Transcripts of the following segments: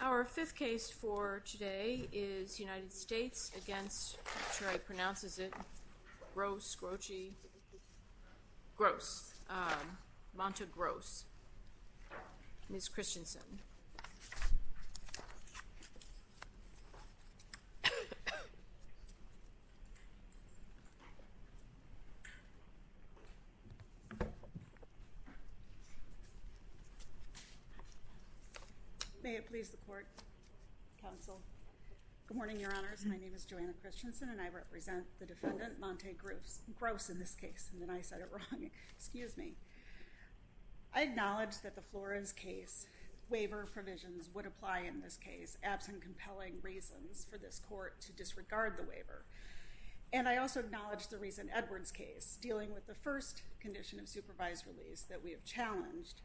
Our fifth case for today is United States v. Monta Groce Ms. Christensen May it please the Court, Counsel. Good morning, Your Honors. My name is Joanna Christensen and I represent the defendant, Monta Groce, in this case. And then I said it wrong. Excuse me. I acknowledge that the Flores case waiver provisions would apply in this case absent compelling reasons for this court to disregard the waiver. And I also acknowledge the recent Edwards case dealing with the first condition of supervised release that we have challenged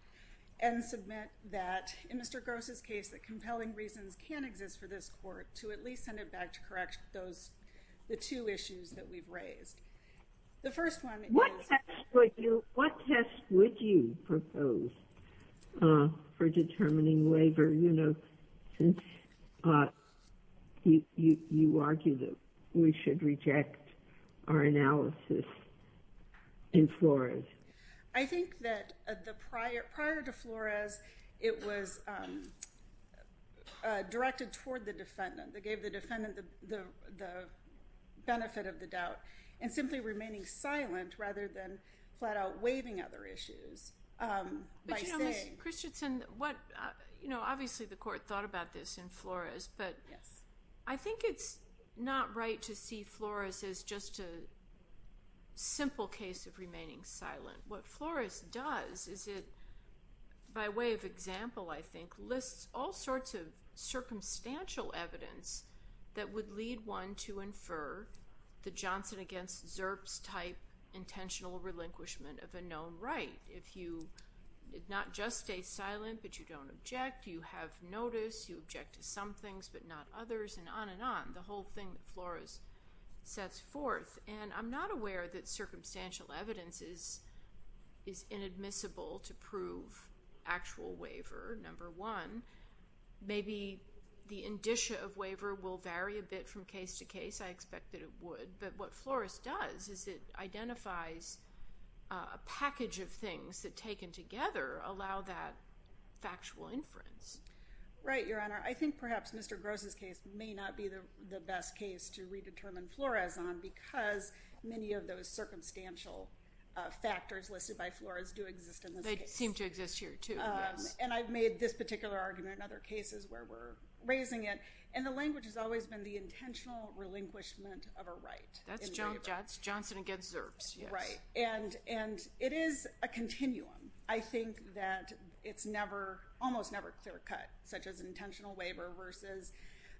and submit that in Mr. Groce's case that compelling reasons can exist for this court to at least send it back to correct the two issues that we've raised. What test would you propose for determining waiver, you know, since you argue that we should reject our analysis in Flores? I think that prior to Flores, it was directed toward the defendant. It gave the defendant the benefit of the doubt. And simply remaining silent rather than flat out waiving other issues by saying But, you know, Ms. Christensen, what, you know, obviously the court thought about this in Flores, but I think it's not right to see Flores as just a simple case of remaining silent. What Flores does is it, by way of example, I think, lists all sorts of circumstantial evidence that would lead one to infer the Johnson against Zerps type intentional relinquishment of a known right. If you did not just stay silent but you don't object, you have notice, you object to some things but not others, and on and on, the whole thing that Flores sets forth. And I'm not aware that circumstantial evidence is inadmissible to prove actual waiver, number one. Maybe the indicia of waiver will vary a bit from case to case. I expect that it would. But what Flores does is it identifies a package of things that, taken together, allow that factual inference. Right, Your Honor. I think perhaps Mr. Gross's case may not be the best case to redetermine Flores on because many of those circumstantial factors listed by Flores do exist in this case. They seem to exist here, too. And I've made this particular argument in other cases where we're raising it. And the language has always been the intentional relinquishment of a right. That's Johnson against Zerps, yes. Right. And it is a continuum. I think that it's almost never clear-cut, such as an intentional waiver versus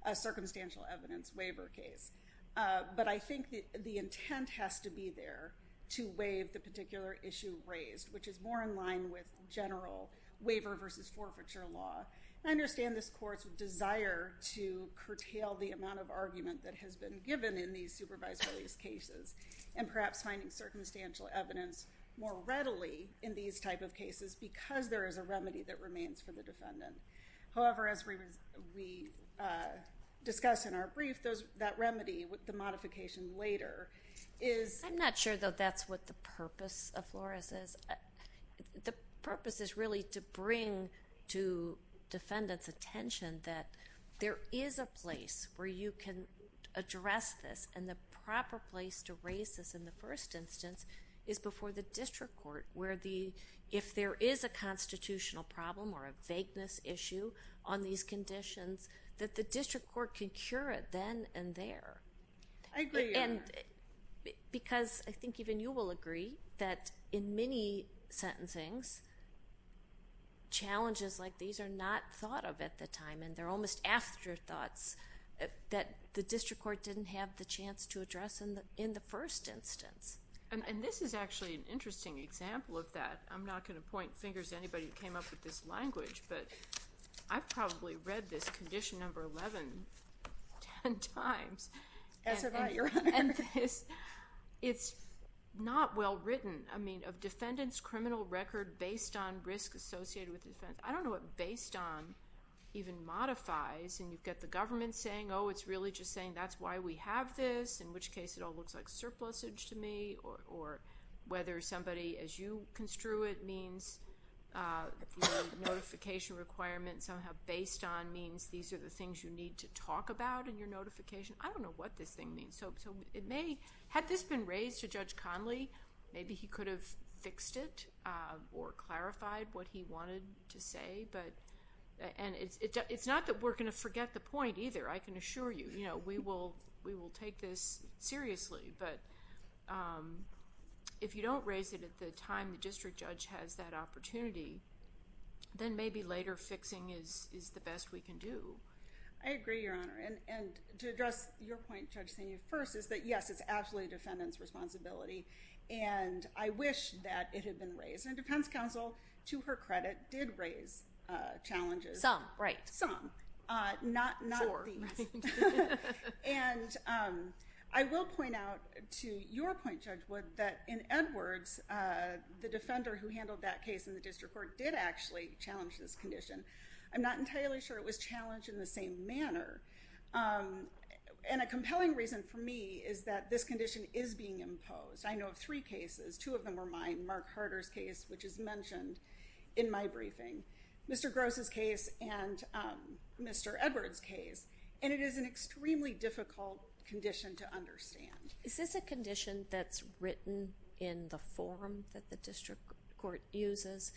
a circumstantial evidence waiver case. But I think the intent has to be there to waive the particular issue raised, which is more in line with general waiver versus forfeiture law. I understand this Court's desire to curtail the amount of argument that has been given in these supervisory cases and perhaps finding circumstantial evidence more readily in these type of cases because there is a remedy that remains for the defendant. However, as we discussed in our brief, that remedy, the modification later, is... I'm not sure, though, that's what the purpose of Flores is. The purpose is really to bring to defendants' attention that there is a place where you can address this and the proper place to raise this in the first instance is before the district court, where if there is a constitutional problem or a vagueness issue on these conditions, that the district court can cure it then and there. I agree. Because I think even you will agree that in many sentencings, challenges like these are not thought of at the time, and they're almost afterthoughts, that the district court didn't have the chance to address in the first instance. And this is actually an interesting example of that. I'm not going to point fingers at anybody who came up with this language, but I've probably read this condition number 11 ten times. As have I, Your Honor. It's not well written. I mean, of defendants' criminal record based on risk associated with defense... I don't know what based on even modifies. And you've got the government saying, oh, it's really just saying that's why we have this, in which case it all looks like surplusage to me, or whether somebody, as you construe it, means notification requirements somehow based on means these are the things you need to talk about in your notification. I don't know what this thing means. Had this been raised to Judge Conley, maybe he could have fixed it or clarified what he wanted to say. And it's not that we're going to forget the point either, I can assure you. We will take this seriously. But if you don't raise it at the time the district judge has that opportunity, then maybe later fixing is the best we can do. I agree, Your Honor. And to address your point, Judge Senior, first is that, yes, it's absolutely a defendant's responsibility. And I wish that it had been raised. And defense counsel, to her credit, did raise challenges. Some, right. Some. Not these. Sure. And I will point out, to your point, Judge Wood, that in Edwards, the defender who handled that case in the district court did actually challenge this condition. I'm not entirely sure it was challenged in the same manner. And a compelling reason for me is that this condition is being imposed. I know of three cases. Two of them were mine. Mark Harder's case, which is mentioned in my briefing. Mr. Gross' case and Mr. Edwards' case. And it is an extremely difficult condition to understand. Is this a condition that's written in the form that the district court uses,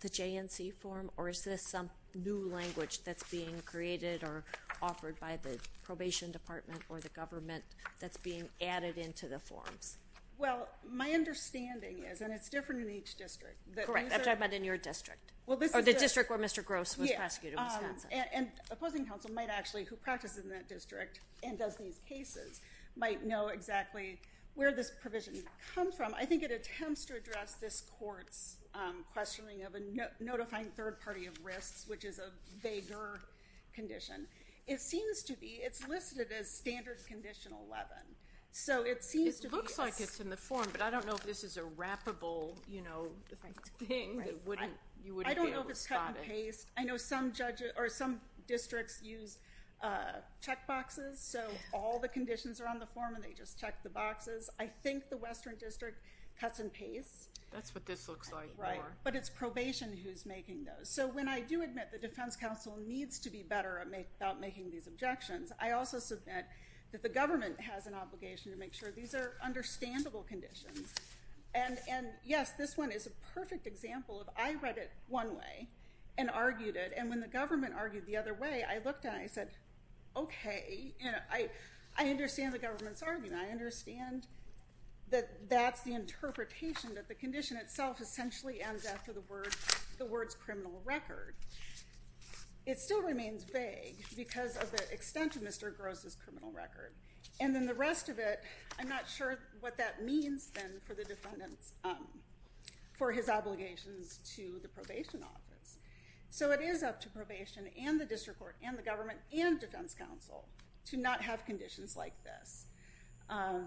the J&C form, or is this some new language that's being created or offered by the probation department or the government that's being added into the forms? Well, my understanding is, and it's different in each district. Correct. I'm talking about in your district. Or the district where Mr. Gross was prosecuted in Wisconsin. And opposing counsel might actually, who practices in that district and does these cases, might know exactly where this provision comes from. I think it attempts to address this court's questioning of a notifying third party of risks, which is a vaguer condition. It seems to be, it's listed as standard condition 11. So it seems to be. It looks like it's in the form, but I don't know if this is a wrappable, you know, thing. You wouldn't be able to spot it. I don't know if it's cut and paste. I know some districts use check boxes, so all the conditions are on the form and they just check the boxes. I think the Western District cuts and pastes. That's what this looks like. Right. But it's probation who's making those. So when I do admit the defense counsel needs to be better about making these objections, I also submit that the government has an obligation to make sure these are understandable conditions. And, yes, this one is a perfect example of I read it one way and argued it. And when the government argued the other way, I looked at it and I said, okay. I understand the government's argument. I understand that that's the interpretation that the condition itself essentially ends after the words criminal record. It still remains vague because of the extent of Mr. Gross's criminal record. And then the rest of it, I'm not sure what that means then for the defendants, for his obligations to the probation office. So it is up to probation and the district court and the government and defense counsel to not have conditions like this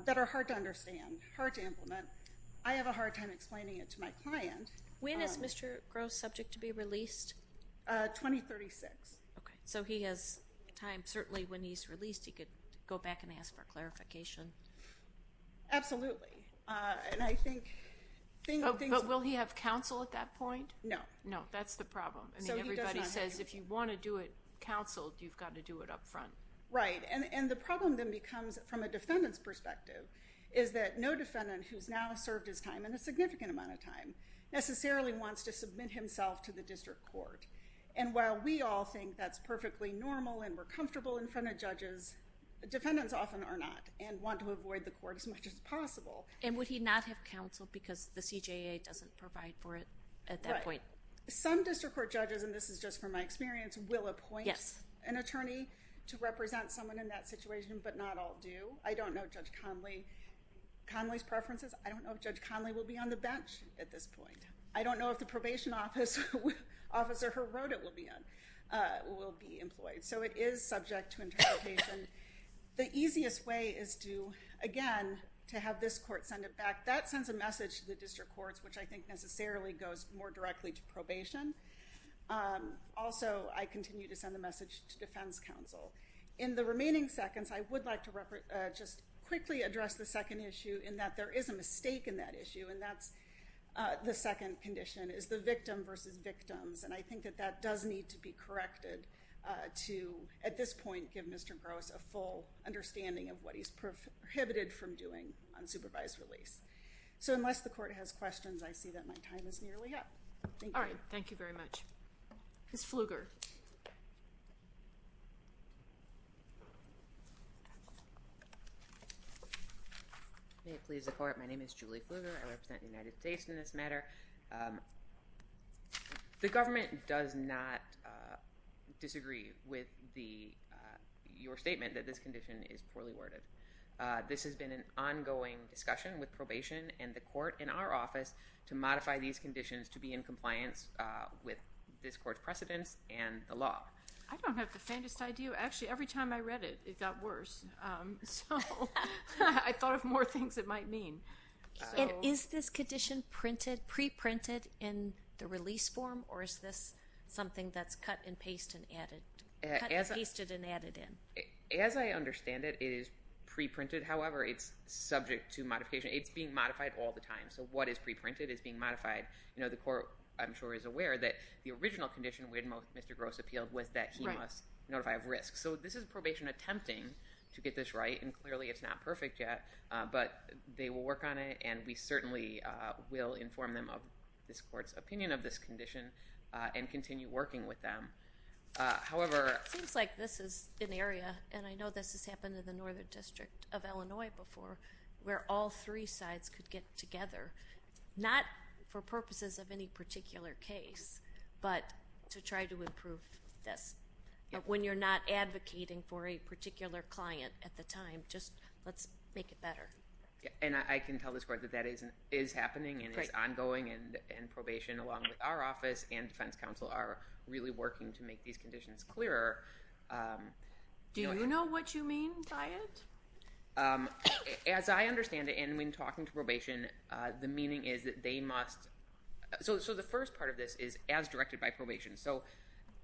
that are hard to understand, hard to implement. I have a hard time explaining it to my client. When is Mr. Gross subject to be released? 2036. Okay. So he has time. Certainly when he's released, he could go back and ask for clarification. Absolutely. And I think the thing of things. But will he have counsel at that point? No. No, that's the problem. I mean, everybody says if you want to do it counseled, you've got to do it up front. Right. And the problem then becomes, from a defendant's perspective, is that no defendant who's now served his time and a significant amount of time necessarily wants to submit himself to the district court. And while we all think that's perfectly normal and we're comfortable in front of judges, And would he not have counsel because the CJA doesn't provide for it at that point? Right. Some district court judges, and this is just from my experience, will appoint an attorney to represent someone in that situation, but not all do. I don't know Judge Conley's preferences. I don't know if Judge Conley will be on the bench at this point. I don't know if the probation officer who wrote it will be employed. So it is subject to interpretation. The easiest way is to, again, to have this court send it back. That sends a message to the district courts, which I think necessarily goes more directly to probation. Also, I continue to send the message to defense counsel. In the remaining seconds, I would like to just quickly address the second issue in that there is a mistake in that issue, and that's the second condition, is the victim versus victims. And I think that that does need to be corrected to, at this point, give Mr. Gross a full understanding of what he's prohibited from doing on supervised release. So unless the court has questions, I see that my time is nearly up. All right. Thank you very much. Ms. Pfluger. May it please the court, my name is Julie Pfluger. I represent the United States in this matter. The government does not disagree with your statement that this condition is poorly worded. This has been an ongoing discussion with probation and the court in our office to modify these conditions to be in compliance with this court's precedents and the law. I don't have the faintest idea. Actually, every time I read it, it got worse. So I thought of more things it might mean. Is this condition pre-printed in the release form, or is this something that's cut and pasted and added in? As I understand it, it is pre-printed. However, it's subject to modification. It's being modified all the time. So what is pre-printed is being modified. The court, I'm sure, is aware that the original condition, when Mr. Gross appealed, was that he must notify of risk. So this is probation attempting to get this right, and clearly it's not perfect yet, but they will work on it, and we certainly will inform them of this court's opinion of this condition and continue working with them. However— It seems like this is an area, and I know this has happened in the Northern District of Illinois before, where all three sides could get together, not for purposes of any particular case, but to try to improve this. When you're not advocating for a particular client at the time, just let's make it better. And I can tell this court that that is happening and is ongoing, and probation, along with our office and defense counsel, are really working to make these conditions clearer. Do you know what you mean by it? As I understand it, and when talking to probation, the meaning is that they must— So the first part of this is as directed by probation. So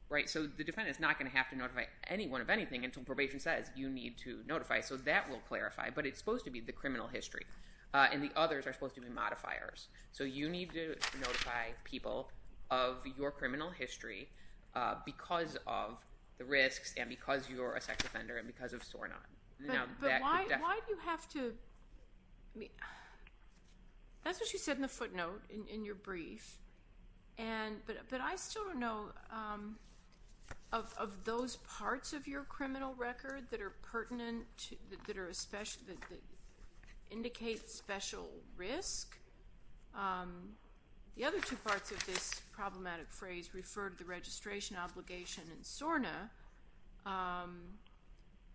the defendant is not going to have to notify anyone of anything until probation says you need to notify, so that will clarify. But it's supposed to be the criminal history, and the others are supposed to be modifiers. So you need to notify people of your criminal history because of the risks and because you're a sex offender and because of SORNA. But why do you have to— That's what you said in the footnote in your brief, but I still don't know. Of those parts of your criminal record that are pertinent, that indicate special risk, the other two parts of this problematic phrase refer to the registration obligation in SORNA,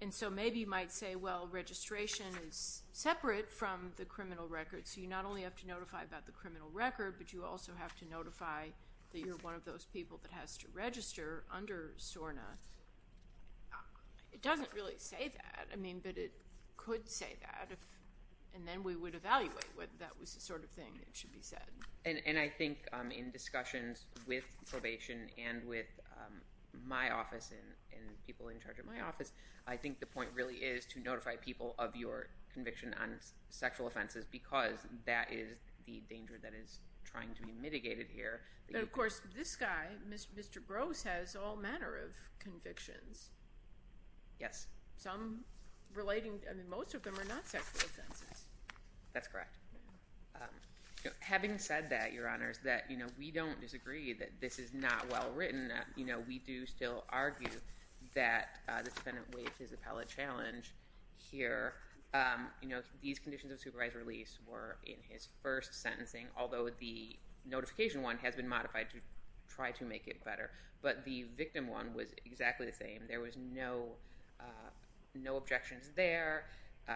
and so maybe you might say, well, registration is separate from the criminal record, so you not only have to notify about the criminal record, but you also have to notify that you're one of those people that has to register under SORNA. It doesn't really say that, but it could say that, and then we would evaluate whether that was the sort of thing that should be said. And I think in discussions with probation and with my office and people in charge of my office, I think the point really is to notify people of your conviction on sexual offenses because that is the danger that is trying to be mitigated here. But of course, this guy, Mr. Gross, has all manner of convictions. Some relating—I mean, most of them are not sexual offenses. That's correct. Having said that, Your Honors, that we don't disagree that this is not well-written. We do still argue that the defendant waived his appellate challenge here. These conditions of supervised release were in his first sentencing, although the notification one has been modified to try to make it better. But the victim one was exactly the same. There was no objections there.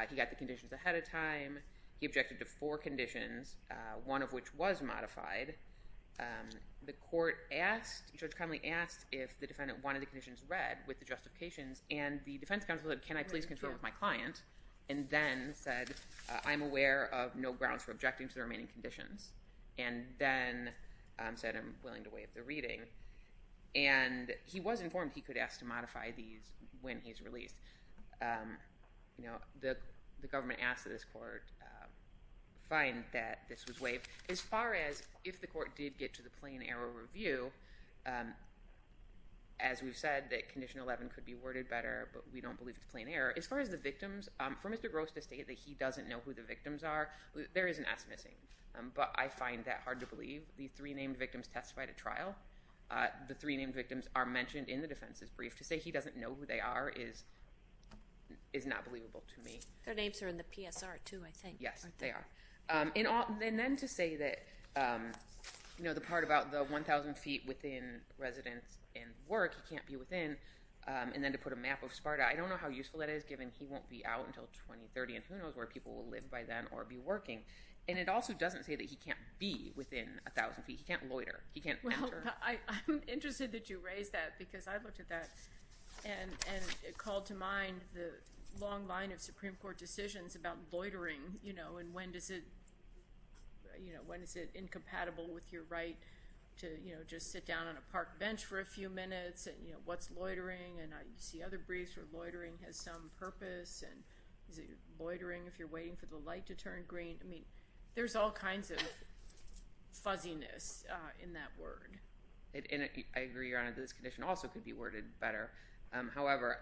He got the conditions ahead of time. He objected to four conditions, one of which was modified. The court asked—Judge Connolly asked if the defendant wanted the conditions read with the justifications, and the defense counsel said, can I please confer with my client, and then said, I'm aware of no grounds for objecting to the remaining conditions, and then said I'm willing to waive the reading. And he was informed he could ask to modify these when he's released. The government asked that this court find that this was waived. As far as if the court did get to the plain error review, as we've said, that Condition 11 could be worded better, but we don't believe it's plain error. As far as the victims, for Mr. Gross to state that he doesn't know who the victims are, there is an S missing. But I find that hard to believe. The three named victims testified at trial. The three named victims are mentioned in the defense's brief. To say he doesn't know who they are is not believable to me. Their names are in the PSR, too, I think. Yes, they are. And then to say that the part about the 1,000 feet within residence and work, he can't be within, and then to put a map of Sparta, I don't know how useful that is given he won't be out until 2030, and who knows where people will live by then or be working. And it also doesn't say that he can't be within 1,000 feet. He can't loiter. He can't enter. Well, I'm interested that you raise that because I looked at that and it called to mind the long line of Supreme Court decisions about loitering and when is it incompatible with your right to just sit down on a park bench for a few minutes and, you know, what's loitering? And I see other briefs where loitering has some purpose and is it loitering if you're waiting for the light to turn green? I mean, there's all kinds of fuzziness in that word. And I agree, Your Honor, that this condition also could be worded better. However,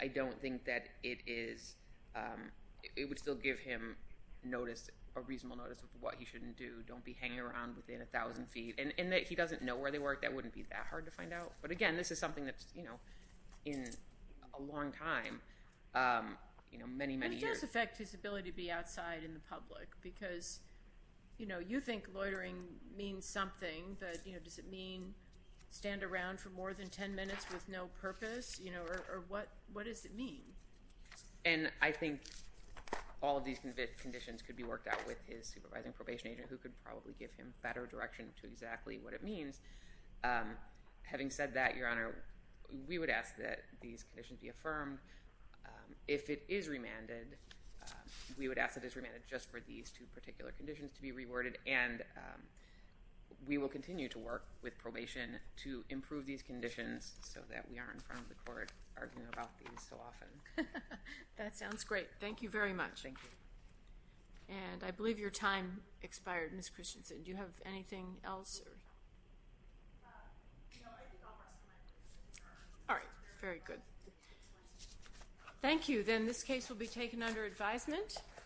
I don't think that it is—it would still give him notice, a reasonable notice of what he shouldn't do. Don't be hanging around within 1,000 feet. And that he doesn't know where they work, that wouldn't be that hard to find out. But, again, this is something that's in a long time, many, many years. It does affect his ability to be outside in the public because you think loitering means something, but does it mean stand around for more than 10 minutes with no purpose? Or what does it mean? And I think all of these conditions could be worked out with his supervising probation agent who could probably give him better direction to exactly what it means. Having said that, Your Honor, we would ask that these conditions be affirmed. If it is remanded, we would ask that it's remanded just for these two particular conditions to be reworded. And we will continue to work with probation to improve these conditions so that we aren't in front of the court arguing about these so often. That sounds great. Thank you very much. Thank you. And I believe your time expired, Ms. Christensen. Do you have anything else? All right. Very good. Thank you. Then this case will be taken under advisement.